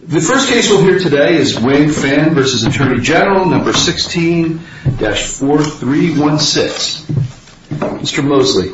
The first case we'll hear today is Wang Finn v. Attorney General, No. 16-4316. Mr. Mosley.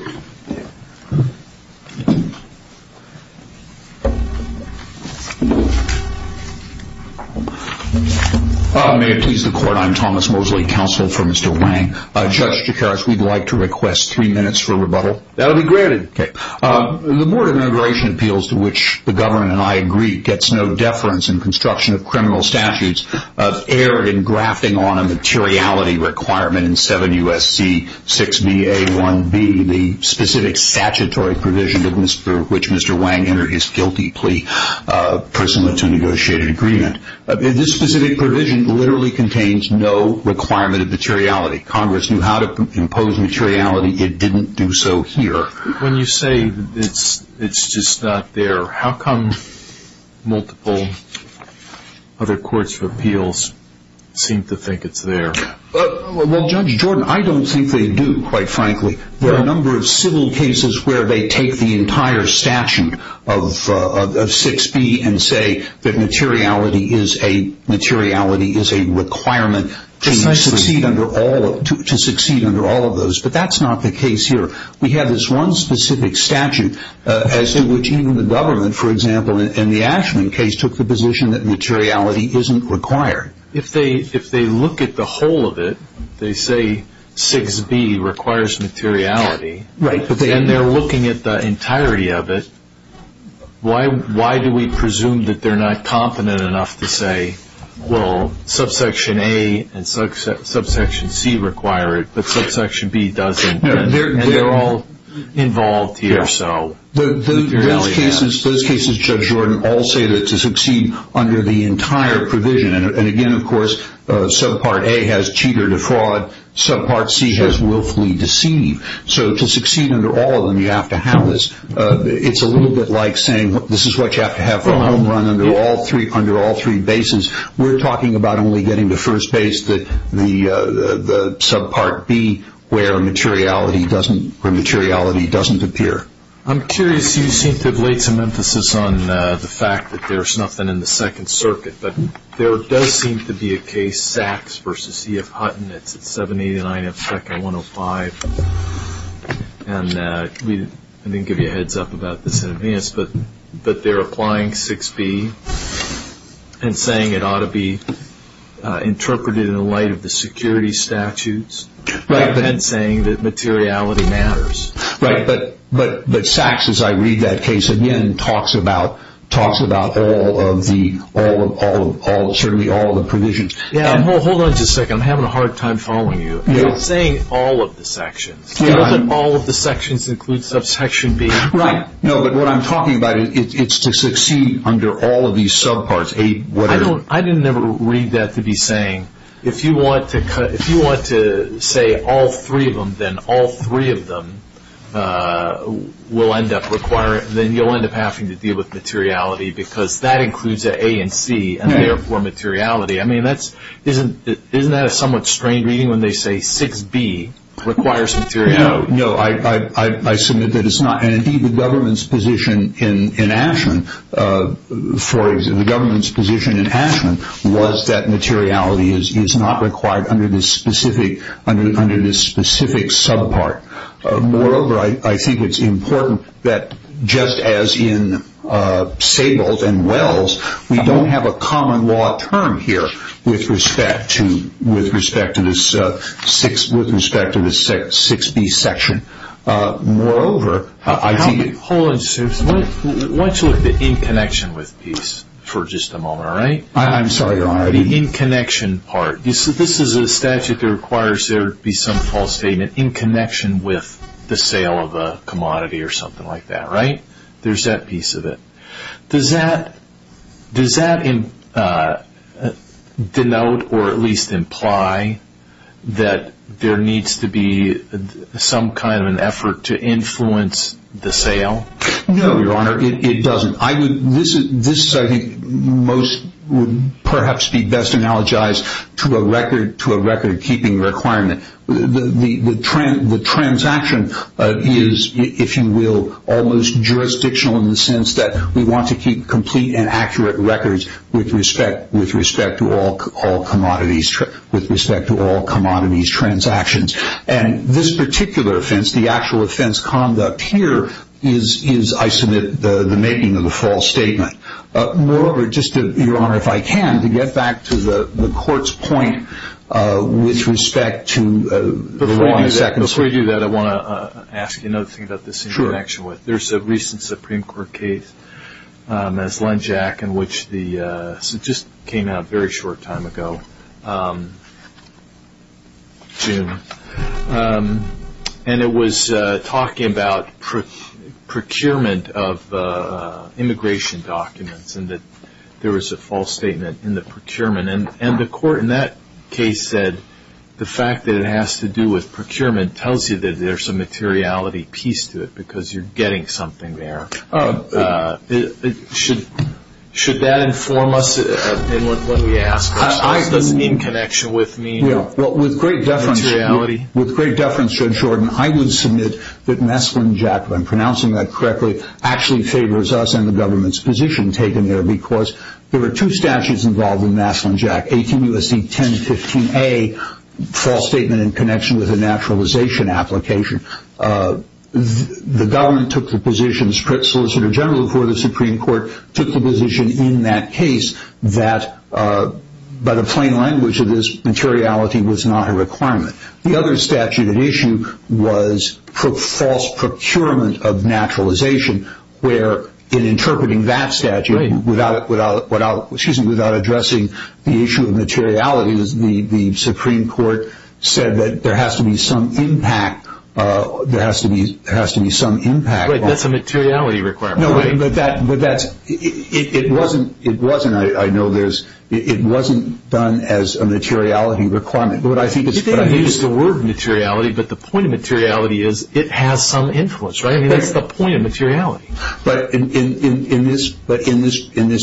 May it please the Court, I'm Thomas Mosley, counsel for Mr. Wang. Judge Jacares, we'd like to request three minutes for rebuttal. That'll be granted. The Board of Immigration Appeals, to which the government and I agree, gets no deference in construction of criminal statutes of error in grafting on a materiality requirement in 7 U.S.C. 6BA-1B, the specific statutory provision for which Mr. Wang entered his guilty plea pursuant to a negotiated agreement. This specific provision literally contains no requirement of materiality. Congress knew how to impose materiality. It didn't do so here. When you say it's just not there, how come multiple other courts of appeals seem to think it's there? Well, Judge Jordan, I don't think they do, quite frankly. There are a number of civil cases where they take the entire statute of 6B and say that materiality is a requirement to succeed under all of those. But that's not the case here. We have this one specific statute as in which even the government, for example, in the Ashman case, took the position that materiality isn't required. If they look at the whole of it, they say 6B requires materiality, and they're looking at the entirety of it, why do we presume that they're not competent enough to say, well, subsection A and subsection C require it, but subsection B doesn't, and they're all involved here. Those cases, Judge Jordan, all say that to succeed under the entire provision, and again, of course, subpart A has cheater defraud, subpart C has willfully deceive. So to succeed under all of them, you have to have this. It's a little bit like saying this is what you have to have for a home run under all three bases. We're talking about only getting to first base, the subpart B where materiality doesn't appear. I'm curious. You seem to have laid some emphasis on the fact that there's nothing in the Second Circuit, but there does seem to be a case, Sachs v. E.F. Hutton. It's at 789 F. Becker 105, and I didn't give you a heads up about this in advance, but they're applying 6B and saying it ought to be interpreted in light of the security statutes and saying that materiality matters. Right, but Sachs, as I read that case, again, talks about all of the, certainly all of the provisions. Hold on just a second. I'm having a hard time following you. You're saying all of the sections. You're not saying all of the sections include subsection B. Right. No, but what I'm talking about is it's to succeed under all of these subparts, A, whatever. I didn't ever read that to be saying if you want to say all three of them, then all three of them will end up requiring, then you'll end up having to deal with materiality because that includes A and C, and therefore materiality. I mean, isn't that a somewhat strange reading when they say 6B requires materiality? No, I submit that it's not. And, indeed, the government's position in Ashman, for example, the government's position in Ashman was that materiality is not required under this specific subpart. Moreover, I think it's important that just as in Saybolt and Wells, we don't have a common law term here with respect to this 6B section. Moreover, I think... Hold on, sir. Why don't you look at the in connection with piece for just a moment, all right? I'm sorry. The in connection part. This is a statute that requires there to be some false statement in connection with the sale of a commodity or something like that, right? There's that piece of it. Does that denote or at least imply that there needs to be some kind of an effort to influence the sale? No, Your Honor, it doesn't. This, I think, would perhaps be best analogized to a record-keeping requirement. The transaction is, if you will, almost jurisdictional in the sense that we want to keep complete and accurate records with respect to all commodities transactions. And this particular offense, the actual offense conduct here, is, I submit, the making of the false statement. Moreover, just to, Your Honor, if I can, to get back to the court's point with respect to the law in the Second Circuit. Before we do that, I want to ask you another thing about this in connection with. There's a recent Supreme Court case, as Len Jack, in which the... This just came out a very short time ago, June. And it was talking about procurement of immigration documents and that there was a false statement in the procurement. And the court in that case said the fact that it has to do with procurement tells you that there's a materiality piece to it because you're getting something there. Should that inform us in what we ask? This is in connection with materiality. With great deference, Judge Shorten, I would submit that Maslin-Jack, if I'm pronouncing that correctly, actually favors us and the government's position taken there because there were two statutes involved in Maslin-Jack, 18 U.S.C. 1015A, false statement in connection with a naturalization application. The government took the position, the Solicitor General before the Supreme Court, took the position in that case that, by the plain language of this, materiality was not a requirement. The other statute at issue was false procurement of naturalization, where in interpreting that statute without addressing the issue of materiality, the Supreme Court said that there has to be some impact. Right, that's a materiality requirement, right? No, but that's, it wasn't, I know there's, it wasn't done as a materiality requirement. But I think it's what I mean. You didn't use the word materiality, but the point of materiality is it has some influence, right? I mean, that's the point of materiality. But in this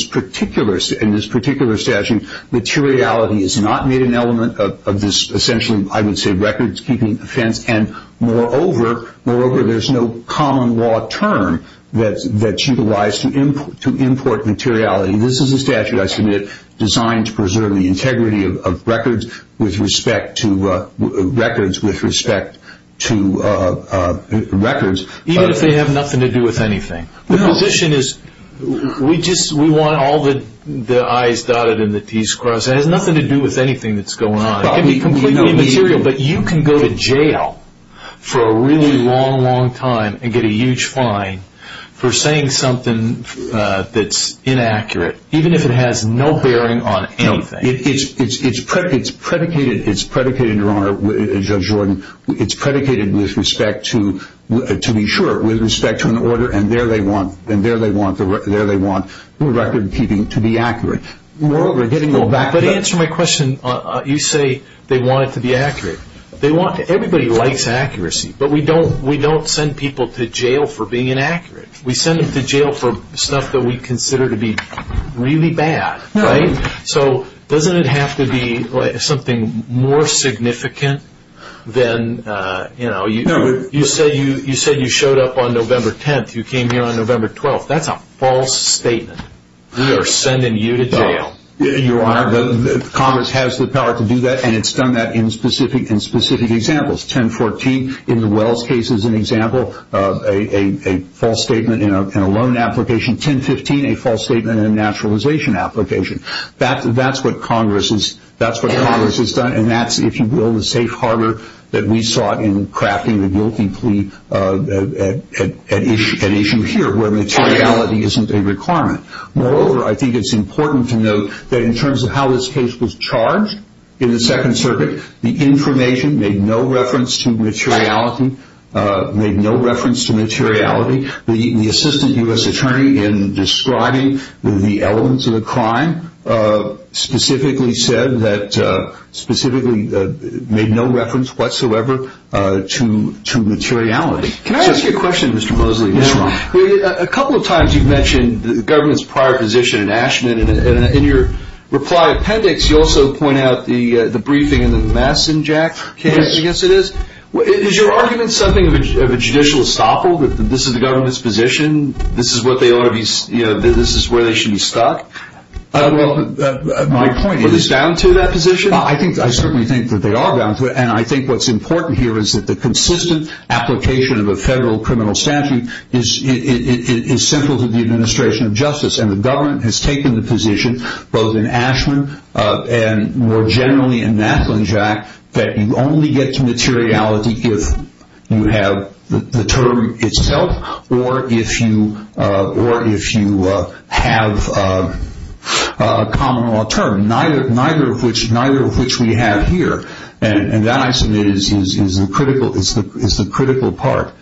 particular statute, materiality is not made an element of this, it's essentially, I would say, records keeping offense, and moreover, moreover there's no common law term that's utilized to import materiality. This is a statute, I submit, designed to preserve the integrity of records with respect to, records with respect to records. Even if they have nothing to do with anything. The position is, we just, we want all the I's dotted and the T's crossed. It has nothing to do with anything that's going on. It can be completely immaterial, but you can go to jail for a really long, long time and get a huge fine for saying something that's inaccurate, even if it has no bearing on anything. It's predicated, it's predicated, Your Honor, Judge Jordan, it's predicated with respect to, to be sure, with respect to an order, and there they want, and there they want, there they want record keeping to be accurate. But to answer my question, you say they want it to be accurate. Everybody likes accuracy, but we don't send people to jail for being inaccurate. We send them to jail for stuff that we consider to be really bad, right? So doesn't it have to be something more significant than, you know, you said you showed up on November 10th, you came here on November 12th, that's a false statement. They are sending you to jail. Your Honor, Congress has the power to do that, and it's done that in specific examples. 1014 in the Wells case is an example, a false statement in a loan application. 1015, a false statement in a naturalization application. That's what Congress has done, and that's, if you will, that we sought in crafting the guilty plea at issue here where materiality isn't a requirement. Moreover, I think it's important to note that in terms of how this case was charged in the Second Circuit, the information made no reference to materiality, made no reference to materiality. The assistant U.S. attorney in describing the elements of the crime specifically said that, specifically made no reference whatsoever to materiality. Can I ask you a question, Mr. Mosley? Yes, Your Honor. A couple of times you've mentioned the government's prior position in Ashman, and in your reply appendix you also point out the briefing and the mess in Jack's case. Yes, it is. Is your argument something of a judicial estoppel, that this is the government's position, this is what they ought to be, you know, this is where they should be stuck? Well, my point is- Are they down to that position? I certainly think that they are down to it, and I think what's important here is that the consistent application of a federal criminal statute is central to the administration of justice, and the government has taken the position both in Ashman and more generally in Nathal and Jack that you only get to materiality if you have the term itself or if you have a common law term, neither of which we have here. And that, I submit, is the critical part.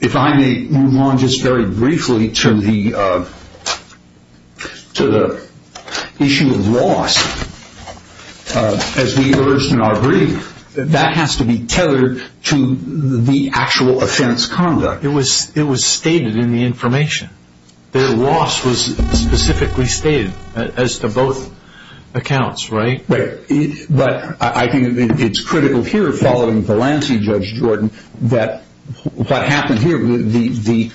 If I may move on just very briefly to the issue of loss, as we urged in our brief, that has to be tethered to the actual offense conduct. It was stated in the information. Their loss was specifically stated as to both accounts, right? Right. But I think it's critical here, following Valancey, Judge Jordan, that what happened here, the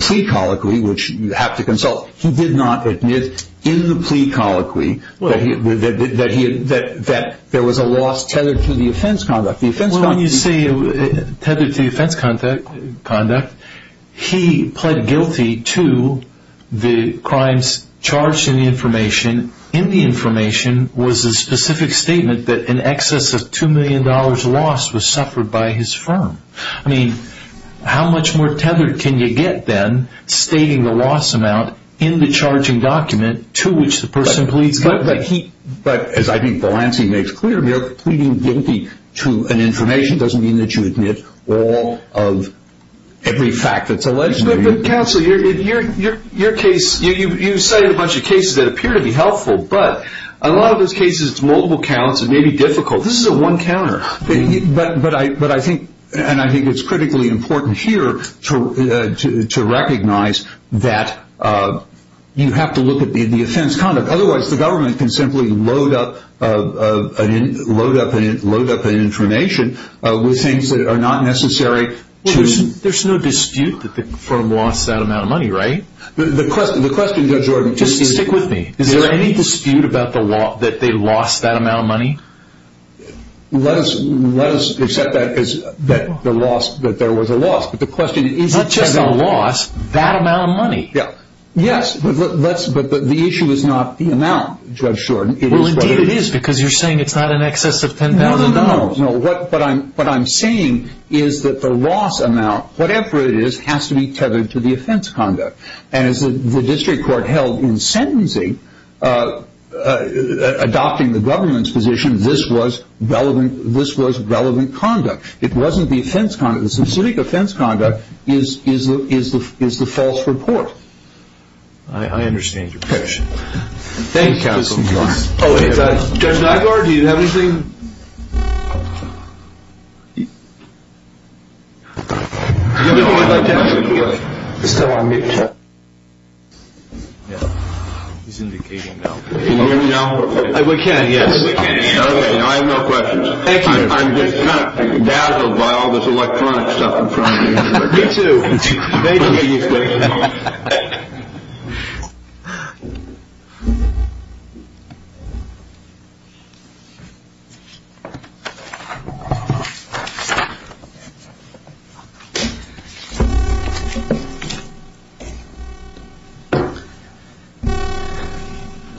plea colloquy, which you have to consult, he did not admit in the plea colloquy that there was a loss tethered to the offense conduct. Well, when you say tethered to the offense conduct, he pled guilty to the crimes charged in the information. In the information was a specific statement that an excess of $2 million loss was suffered by his firm. I mean, how much more tethered can you get then stating the loss amount in the charging document to which the person pleads guilty? But, as I think Valancey makes clear, pleading guilty to an information doesn't mean that you admit all of every fact that's alleged to you. But, counsel, your case, you cited a bunch of cases that appear to be helpful, but a lot of those cases, it's multiple counts, it may be difficult. This is a one counter. But I think, and I think it's critically important here to recognize that you have to look at the offense conduct. Otherwise, the government can simply load up an information with things that are not necessary to There's no dispute that the firm lost that amount of money, right? The question, Judge Jordan, is Just stick with me. Is there any dispute that they lost that amount of money? Let us accept that there was a loss, but the question is Not just a loss, that amount of money. Yes, but the issue is not the amount, Judge Jordan. Well, indeed it is, because you're saying it's not in excess of $10,000. No, no, no. What I'm saying is that the loss amount, whatever it is, has to be tethered to the offense conduct. And as the district court held in sentencing, adopting the government's position, this was relevant conduct. It wasn't the offense conduct. Is the false report. I understand your question. Thank you, counsel. Judge Nygaard, do you have anything? Can you hear me now? We can, yes. I have no questions. I'm just kind of dazzled by all this electronic stuff in front of me. Me too. Thank you. Good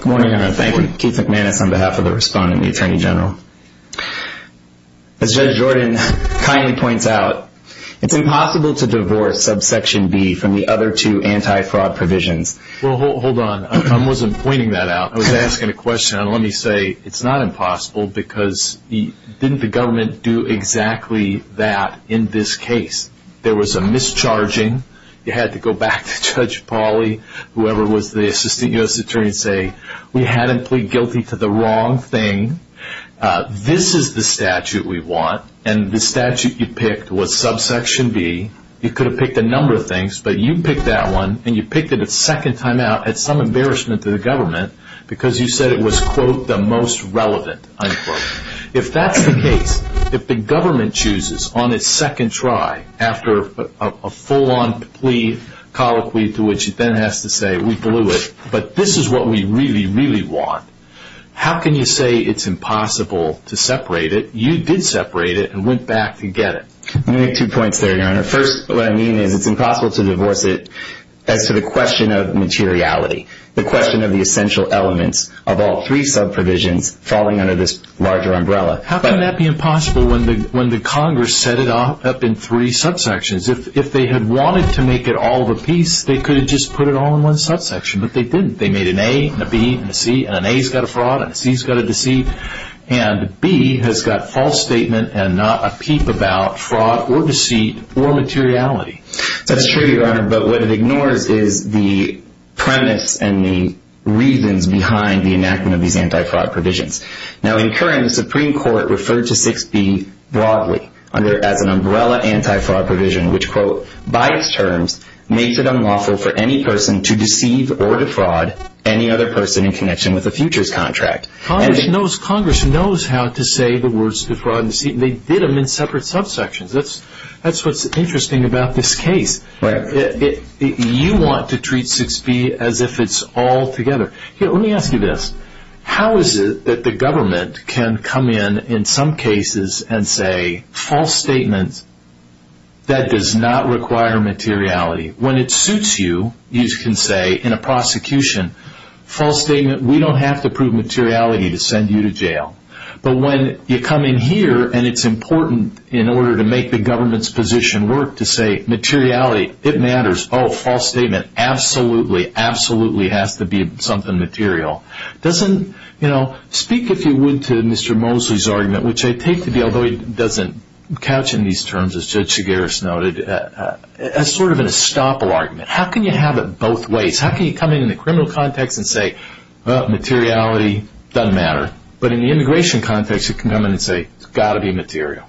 morning, Your Honor. Thank you. Keith McManus on behalf of the Respondent and the Attorney General. As Judge Jordan kindly points out, it's impossible to divorce subsection B from the other two anti-fraud provisions. Well, hold on. I wasn't pointing that out. I was asking a question. And let me say, it's not impossible, because didn't the government do exactly that in this case? There was a mischarging. You had to go back to Judge Pauly, whoever was the Assistant U.S. Attorney, and say, we had him plead guilty to the wrong thing. This is the statute we want, and the statute you picked was subsection B. You could have picked a number of things, but you picked that one, and you picked it a second time out at some embarrassment to the government, because you said it was, quote, the most relevant, unquote. If that's the case, if the government chooses on its second try, after a full-on plea colloquy to which it then has to say, we blew it, but this is what we really, really want, how can you say it's impossible to separate it? You did separate it and went back to get it. Let me make two points there, Your Honor. First, what I mean is it's impossible to divorce it as to the question of materiality, the question of the essential elements of all three subprovisions falling under this larger umbrella. How can that be impossible when the Congress set it up in three subsections? If they had wanted to make it all of a piece, they could have just put it all in one subsection, but they didn't. They made an A and a B and a C, and an A's got a fraud and a C's got a deceit, and B has got false statement and not a peep about fraud or deceit or materiality. That's true, Your Honor, but what it ignores is the premise and the reasons behind the enactment of these anti-fraud provisions. Now, in current, the Supreme Court referred to 6B broadly as an umbrella anti-fraud provision, which, quote, by its terms, makes it unlawful for any person to deceive or defraud any other person in connection with a futures contract. Congress knows how to say the words defraud and deceit, and they did them in separate subsections. That's what's interesting about this case. You want to treat 6B as if it's all together. Let me ask you this. How is it that the government can come in in some cases and say, false statement, that does not require materiality? When it suits you, you can say in a prosecution, false statement, we don't have to prove materiality to send you to jail. But when you come in here and it's important in order to make the government's position work to say materiality, it matters, oh, false statement, absolutely, absolutely has to be something material. Doesn't, you know, speak, if you would, to Mr. Mosley's argument, which I take to be, although he doesn't couch in these terms, as Judge Chigurhs noted, as sort of an estoppel argument. How can you have it both ways? How can you come in in the criminal context and say, well, materiality doesn't matter, but in the immigration context, you can come in and say, it's got to be material.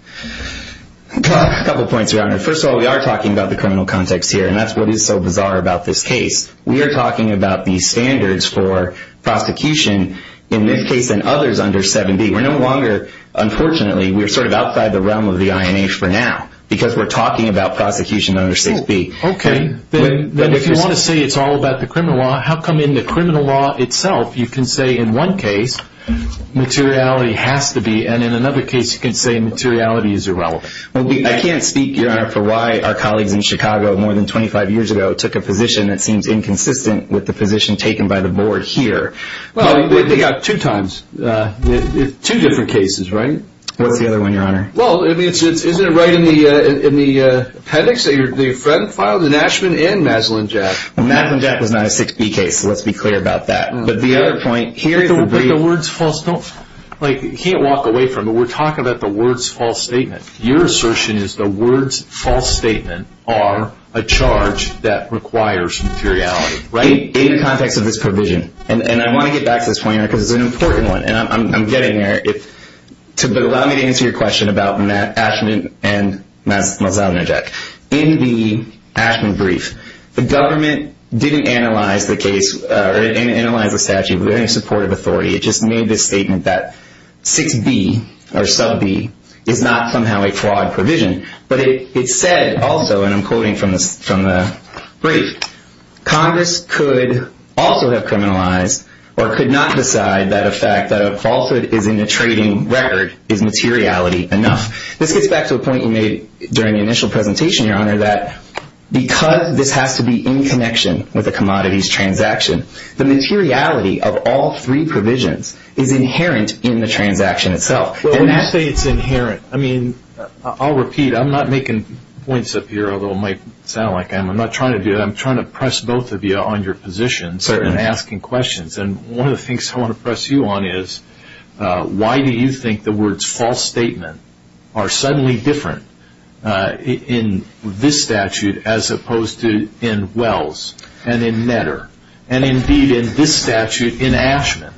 A couple points, Your Honor. First of all, we are talking about the criminal context here, and that's what is so bizarre about this case. We are talking about these standards for prosecution in this case and others under 7B. We're no longer, unfortunately, we're sort of outside the realm of the INH for now, because we're talking about prosecution under 6B. Okay. Then if you want to say it's all about the criminal law, how come in the criminal law itself, you can say in one case, materiality has to be, and in another case, you can say materiality is irrelevant? I can't speak, Your Honor, for why our colleagues in Chicago more than 25 years ago took a position that seems inconsistent with the position taken by the board here. Well, they got two times, two different cases, right? What's the other one, Your Honor? Well, isn't it right in the appendix that your friend filed, the Nashman and Maslin-Jack? Maslin-Jack was not a 6B case, so let's be clear about that. But the other point, here is the brief. But the words false, you can't walk away from it. We're talking about the words false statement. Your assertion is the words false statement are a charge that requires inferiority, right? In the context of this provision, and I want to get back to this point, Your Honor, because it's an important one, and I'm getting there, but allow me to answer your question about Nashman and Maslin-Jack. In the Nashman brief, the government didn't analyze the case or analyze the statute with any supportive authority. It just made this statement that 6B or sub-B is not somehow a flawed provision. But it said also, and I'm quoting from the brief, Congress could also have criminalized or could not decide that a fact that a falsehood is in the trading record is materiality enough. This gets back to a point you made during the initial presentation, Your Honor, that because this has to be in connection with the commodities transaction, the materiality of all three provisions is inherent in the transaction itself. Well, when you say it's inherent, I mean, I'll repeat. I'm not making points up here, although it might sound like I am. I'm not trying to do that. I'm trying to press both of you on your positions and asking questions. And one of the things I want to press you on is why do you think the words false statement are suddenly different in this statute as opposed to in Wells and in Netter and, indeed, in this statute in Ashman?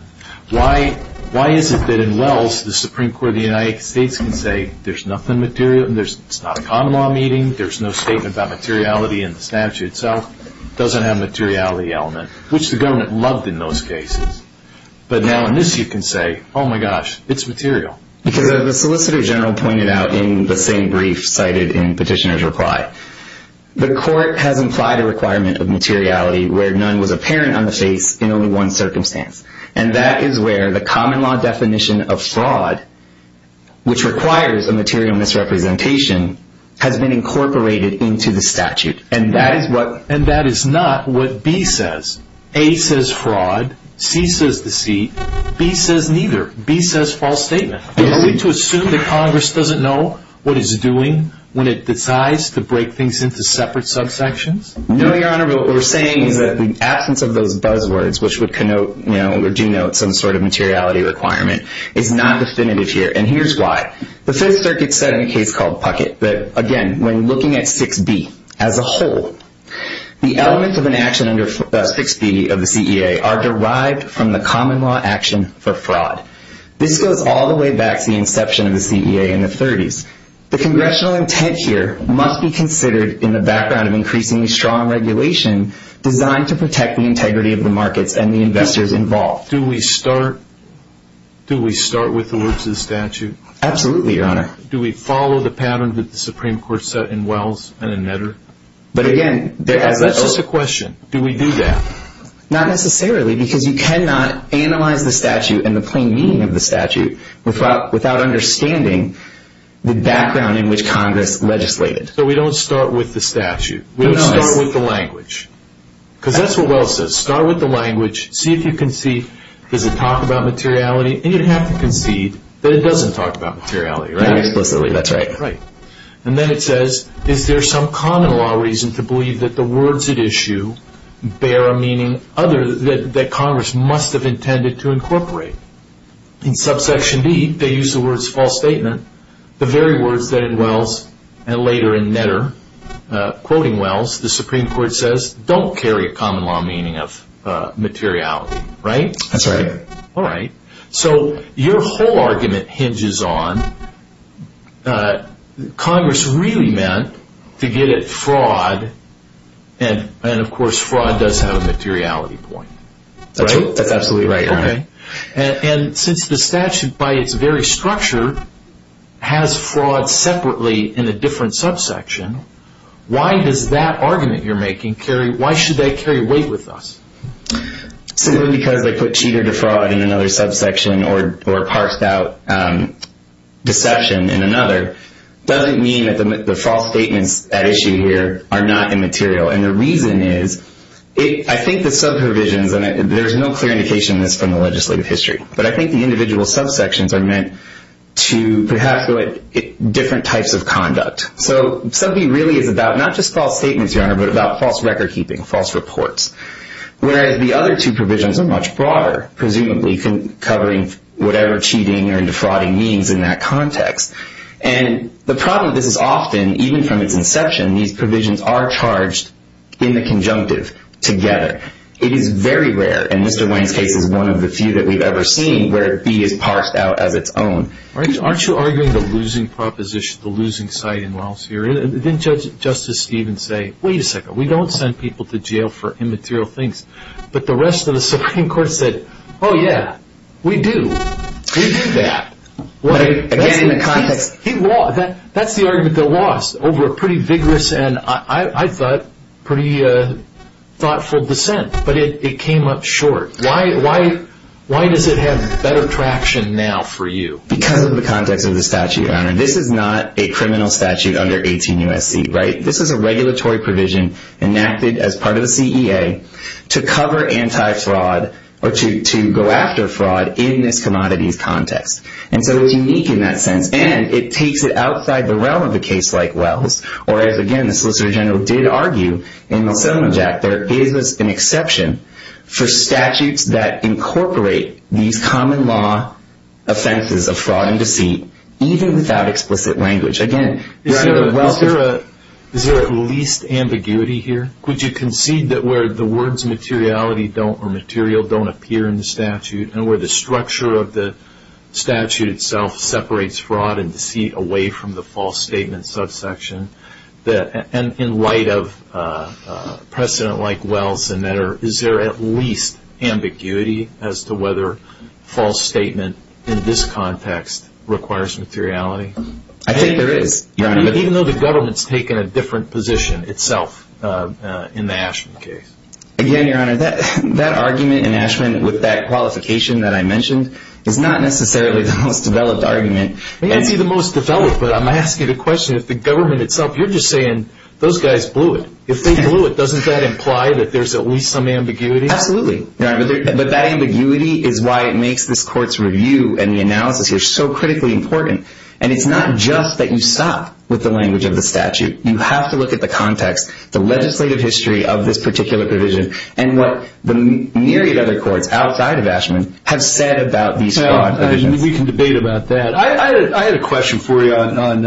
Why is it that in Wells, the Supreme Court of the United States can say there's nothing material, it's not a common law meeting, there's no statement about materiality in the statute, so it doesn't have a materiality element, which the government loved in those cases. But now in this you can say, oh, my gosh, it's material. Because as the Solicitor General pointed out in the same brief cited in Petitioner's reply, the court has implied a requirement of materiality where none was apparent on the face in only one circumstance. And that is where the common law definition of fraud, which requires a material misrepresentation, has been incorporated into the statute. And that is not what B says. A says fraud. C says deceit. B says neither. B says false statement. Are we to assume that Congress doesn't know what it's doing when it decides to break things into separate subsections? No, Your Honor, but what we're saying is that the absence of those buzzwords, which would connote or denote some sort of materiality requirement, is not definitive here. And here's why. The Fifth Circuit said in a case called Puckett that, again, when looking at 6B as a whole, the elements of an action under 6B of the CEA are derived from the common law action for fraud. This goes all the way back to the inception of the CEA in the 30s. The congressional intent here must be considered in the background of increasingly strong regulation designed to protect the integrity of the markets and the investors involved. Do we start with the words of the statute? Absolutely, Your Honor. Do we follow the pattern that the Supreme Court set in Wells and in Netter? That's just a question. Do we do that? Not necessarily, because you cannot analyze the statute and the plain meaning of the statute without understanding the background in which Congress legislated. So we don't start with the statute? No. We don't start with the language? Because that's what Wells says. Start with the language. See if you can see, does it talk about materiality? And you'd have to concede that it doesn't talk about materiality, right? Not explicitly, that's right. Right. And then it says, is there some common law reason to believe that the words at issue bear a meaning that Congress must have intended to incorporate? In subsection B, they use the words false statement. The very words that in Wells and later in Netter, quoting Wells, the Supreme Court says, don't carry a common law meaning of materiality, right? That's right. Alright. So your whole argument hinges on Congress really meant to get at fraud, and of course fraud does have a materiality point, right? That's absolutely right. Okay. And since the statute by its very structure has fraud separately in a different subsection, why does that argument you're making carry, why should that carry weight with us? Simply because they put cheater to fraud in another subsection or parsed out deception in another, doesn't mean that the false statements at issue here are not immaterial. And the reason is, I think the subprovisions, and there's no clear indication of this from the legislative history, but I think the individual subsections are meant to perhaps go at different types of conduct. False reports. Whereas the other two provisions are much broader, presumably covering whatever cheating or defrauding means in that context. And the problem, this is often, even from its inception, these provisions are charged in the conjunctive together. It is very rare, and Mr. Wayne's case is one of the few that we've ever seen, where B is parsed out as its own. Aren't you arguing the losing proposition, the losing side in Wells here? Didn't Justice Stevens say, wait a second, we don't send people to jail for immaterial things. But the rest of the Supreme Court said, oh yeah, we do. We do that. Again, in the context. That's the argument they lost over a pretty vigorous and I thought pretty thoughtful dissent. But it came up short. Why does it have better traction now for you? Because of the context of the statute, Your Honor. This is not a criminal statute under 18 U.S.C., right? This is a regulatory provision enacted as part of the CEA to cover anti-fraud or to go after fraud in this commodities context. And so it was unique in that sense. And it takes it outside the realm of a case like Wells, or as, again, the Solicitor General did argue in the Simmons Act, there is an exception for statutes that incorporate these common law offenses of fraud and deceit, even without explicit language. Is there at least ambiguity here? Would you concede that where the words materiality or material don't appear in the statute and where the structure of the statute itself separates fraud and deceit away from the false statement subsection, and in light of precedent like Wells and that, is there at least ambiguity as to whether false statement in this context requires materiality? I think there is, Your Honor. But even though the government's taken a different position itself in the Ashman case. Again, Your Honor, that argument in Ashman with that qualification that I mentioned is not necessarily the most developed argument. It may not be the most developed, but I'm asking the question, if the government itself, you're just saying those guys blew it. If they blew it, doesn't that imply that there's at least some ambiguity? Absolutely. But that ambiguity is why it makes this court's review and the analysis here so critically important. And it's not just that you stop with the language of the statute. You have to look at the context, the legislative history of this particular provision, and what the myriad of other courts outside of Ashman have said about these fraud provisions. We can debate about that. I had a question for you on,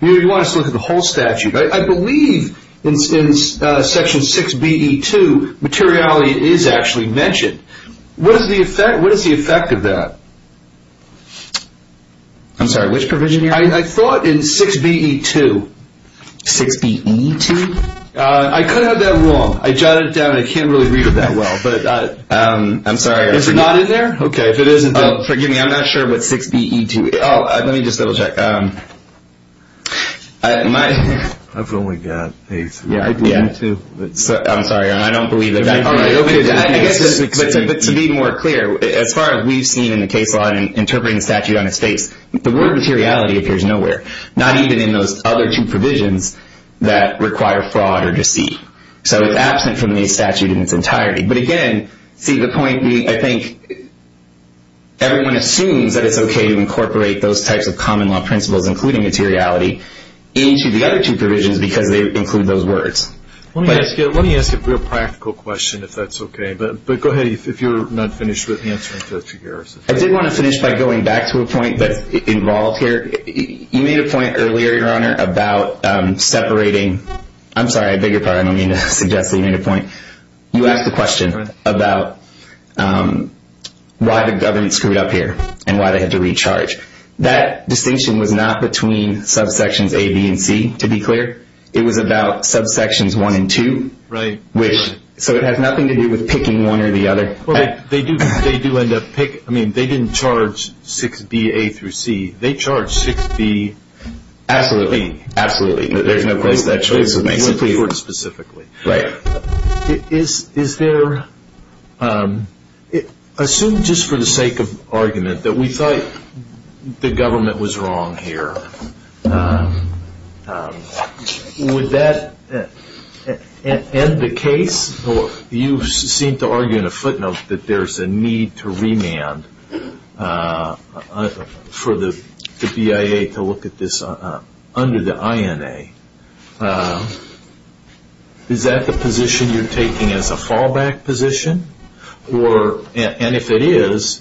you want us to look at the whole statute. I believe in Section 6BE2, materiality is actually mentioned. What is the effect of that? I'm sorry, which provision, Your Honor? I thought in 6BE2. 6BE2? I could have that wrong. I jotted it down, and I can't really read it that well. I'm sorry. Is it not in there? Okay, if it isn't, then forgive me. I'm not sure what 6BE2 is. Let me just double check. I've only got 8. I believe in 2. I'm sorry, Your Honor. I don't believe that. To be more clear, as far as we've seen in the case law and interpreting the statute on its face, the word materiality appears nowhere, not even in those other two provisions that require fraud or deceit. So it's absent from the statute in its entirety. But, again, see, the point, I think everyone assumes that it's okay to incorporate those types of common law principles, including materiality, into the other two provisions because they include those words. Let me ask you a real practical question, if that's okay. But go ahead, if you're not finished with the answer. I did want to finish by going back to a point that's involved here. You made a point earlier, Your Honor, about separating. I'm sorry, I beg your pardon. I don't mean to suggest that you made a point. You asked a question about why the government screwed up here and why they had to recharge. That distinction was not between subsections A, B, and C, to be clear. It was about subsections 1 and 2. Right. So it has nothing to do with picking one or the other. They do end up picking. I mean, they didn't charge 6B, A, through C. They charged 6B, B. Absolutely, absolutely. There's no place that choice would make sense to you. Right. Is there – assume just for the sake of argument that we thought the government was wrong here. Would that end the case? You seem to argue in a footnote that there's a need to remand for the BIA to look at this under the INA. Is that the position you're taking as a fallback position? And if it is,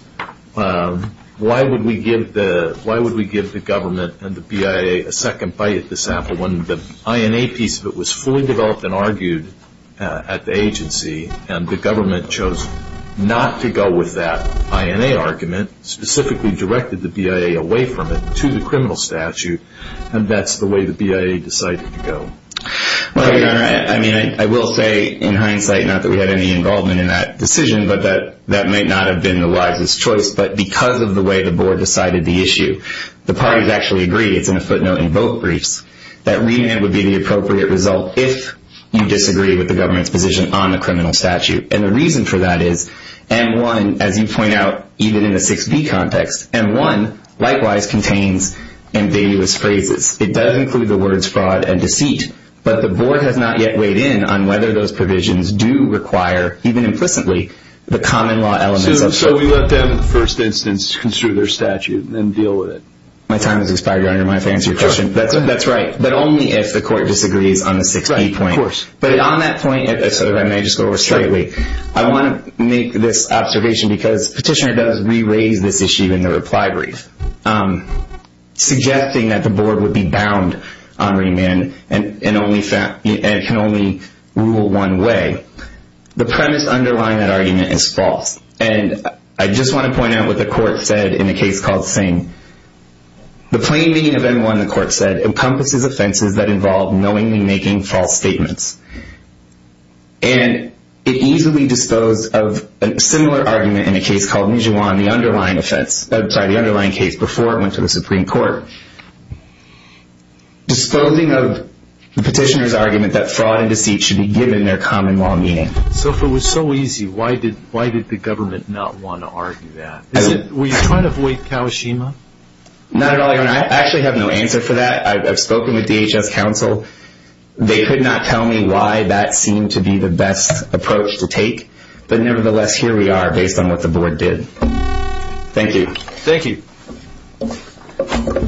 why would we give the government and the BIA a second bite at this apple When the INA piece of it was fully developed and argued at the agency and the government chose not to go with that INA argument, specifically directed the BIA away from it to the criminal statute, and that's the way the BIA decided to go? Well, Your Honor, I mean, I will say in hindsight, not that we had any involvement in that decision, but that might not have been the wisest choice. But because of the way the board decided the issue, the parties actually agreed. It's in a footnote in both briefs that remand would be the appropriate result if you disagree with the government's position on the criminal statute. And the reason for that is M-1, as you point out, even in the 6B context, M-1 likewise contains ambiguous phrases. It does include the words fraud and deceit, but the board has not yet weighed in on whether those provisions do require, even implicitly, the common law elements of – So we let them, in the first instance, construe their statute and then deal with it? My time has expired, Your Honor. Do you mind if I answer your question? Sure. That's right. But only if the court disagrees on the 6B point. Right, of course. But on that point, if I may just go over straightly, I want to make this observation because Petitioner does re-raise this issue in the reply brief, suggesting that the board would be bound on remand and can only rule one way. The premise underlying that argument is false. And I just want to point out what the court said in a case called Singh. The plain meaning of M-1, the court said, encompasses offenses that involve knowingly making false statements. And it easily disposed of a similar argument in a case called Mijuan, the underlying case before it went to the Supreme Court. Disposing of Petitioner's argument that fraud and deceit should be given their common law meaning. So if it was so easy, why did the government not want to argue that? Were you trying to avoid Kawashima? Not at all, Your Honor. I actually have no answer for that. I've spoken with DHS counsel. They could not tell me why that seemed to be the best approach to take. But nevertheless, here we are based on what the board did. Thank you. Thank you. Thank you.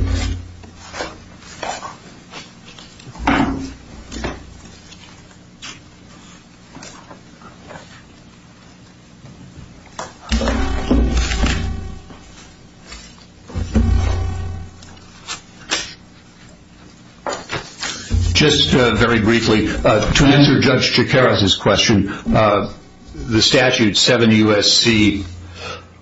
Just very briefly, to answer Judge Jacaraz's question, the statute 7 U.S.C.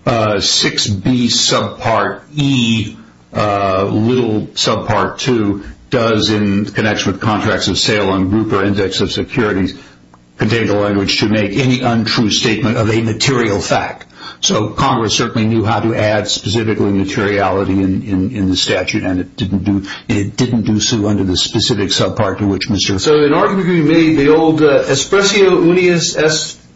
6B subpart E little subpart 2 does in connection with contracts of sale and group or index of securities contain the language to make any untrue statement of a material fact. So Congress certainly knew how to add specifically materiality in the statute, and it didn't do so under the specific subpart to which Mr. So in our opinion, maybe the old espressio unius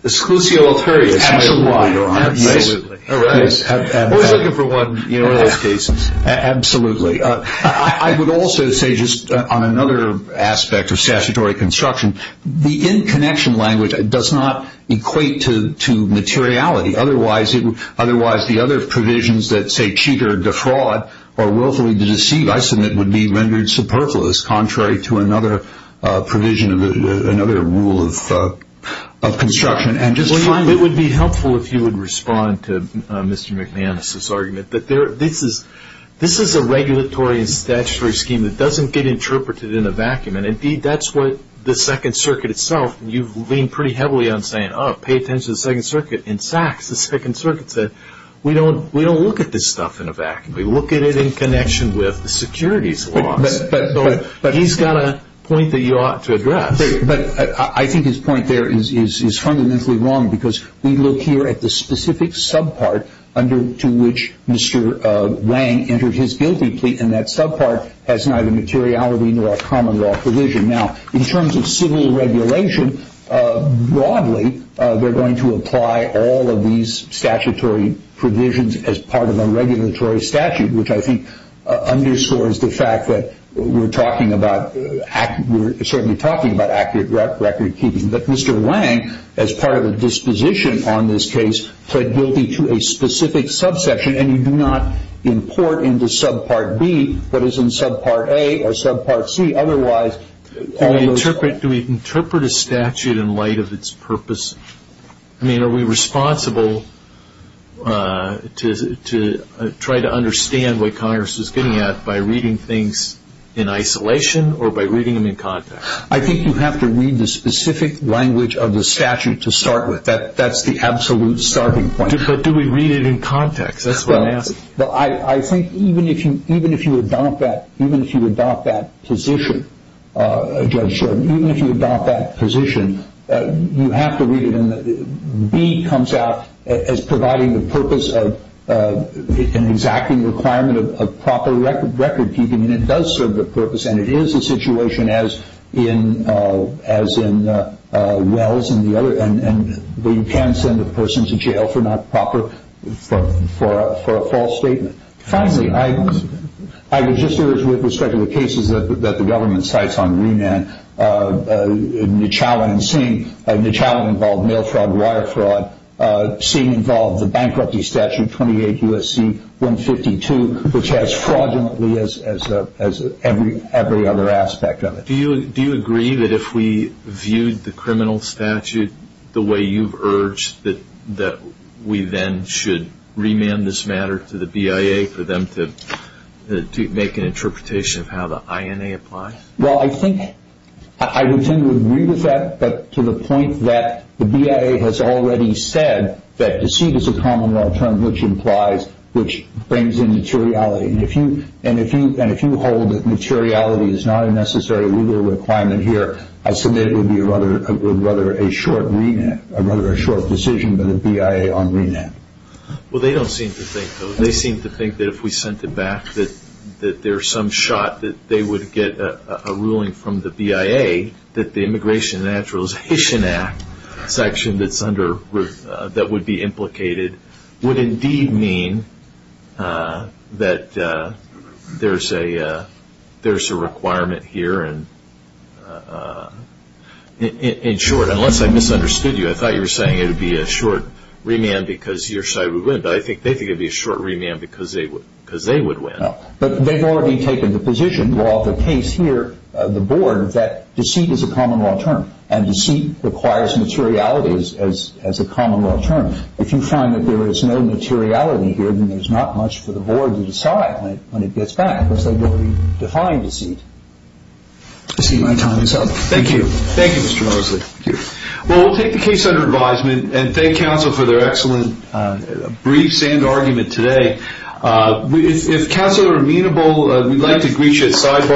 esclusio authoris. Absolutely, Your Honor. Absolutely. Always looking for one in those cases. Absolutely. I would also say just on another aspect of statutory construction, the in-connection language does not equate to materiality. Otherwise, the other provisions that say cheater, defraud, or willfully deceive, I submit would be rendered superfluous contrary to another provision, another rule of construction. It would be helpful if you would respond to Mr. McManus's argument. This is a regulatory and statutory scheme that doesn't get interpreted in a vacuum, and, indeed, that's what the Second Circuit itself, you've leaned pretty heavily on saying, oh, pay attention to the Second Circuit. In fact, the Second Circuit said, we don't look at this stuff in a vacuum. We look at it in connection with the securities laws. But he's got a point that you ought to address. But I think his point there is fundamentally wrong because we look here at the specific subpart under which Mr. Wang entered his guilty plea, and that subpart has neither materiality nor common law provision. Now, in terms of civil regulation, broadly, they're going to apply all of these statutory provisions as part of a regulatory statute, which I think underscores the fact that we're talking about accurate recordkeeping. But Mr. Wang, as part of a disposition on this case, pled guilty to a specific subsection, and you do not import into subpart B what is in subpart A or subpart C. Otherwise, all of those ---- Do we interpret a statute in light of its purpose? I mean, are we responsible to try to understand what Congress is getting at by reading things in isolation or by reading them in context? I think you have to read the specific language of the statute to start with. That's the absolute starting point. But do we read it in context? That's what I'm asking. Well, I think even if you adopt that position, Judge Sheridan, even if you adopt that position, you have to read it in the ---- B comes out as providing the purpose of an exacting requirement of proper recordkeeping, and it does serve the purpose, and it is a situation as in Wells and the other ---- where you can send a person to jail for not proper ---- for a false statement. Finally, I would just urge with respect to the cases that the government cites on remand, Neshalla and Singh, Neshalla involved mail fraud, wire fraud. Singh involved the bankruptcy statute, 28 U.S.C. 152, which has fraudulently as every other aspect of it. Do you agree that if we viewed the criminal statute the way you've urged, that we then should remand this matter to the BIA for them to make an interpretation of how the INA applies? Well, I think I would tend to agree with that, but to the point that the BIA has already said that deceit is a common law term which implies, which brings in materiality, and if you hold that materiality is not a necessary legal requirement here, I submit it would be rather a short decision by the BIA on remand. Well, they don't seem to think, though. They seem to think that if we sent it back that there's some shot that they would get a ruling from the BIA that the Immigration and Naturalization Act section that would be implicated would indeed mean that there's a requirement here. In short, unless I misunderstood you, I thought you were saying it would be a short remand because your side would win, but I think they think it would be a short remand because they would win. No, but they've already taken the position, well, the case here, the board, that deceit is a common law term, and deceit requires materiality as a common law term. If you find that there is no materiality here, then there's not much for the board to decide when it gets back, because they've already defined deceit. I see my time is up. Thank you, Mr. Mosley. Thank you. Well, we'll take the case under advisement and thank counsel for their excellent briefs and argument today. If counsel are amenable, we'd like to greet you at sidebar.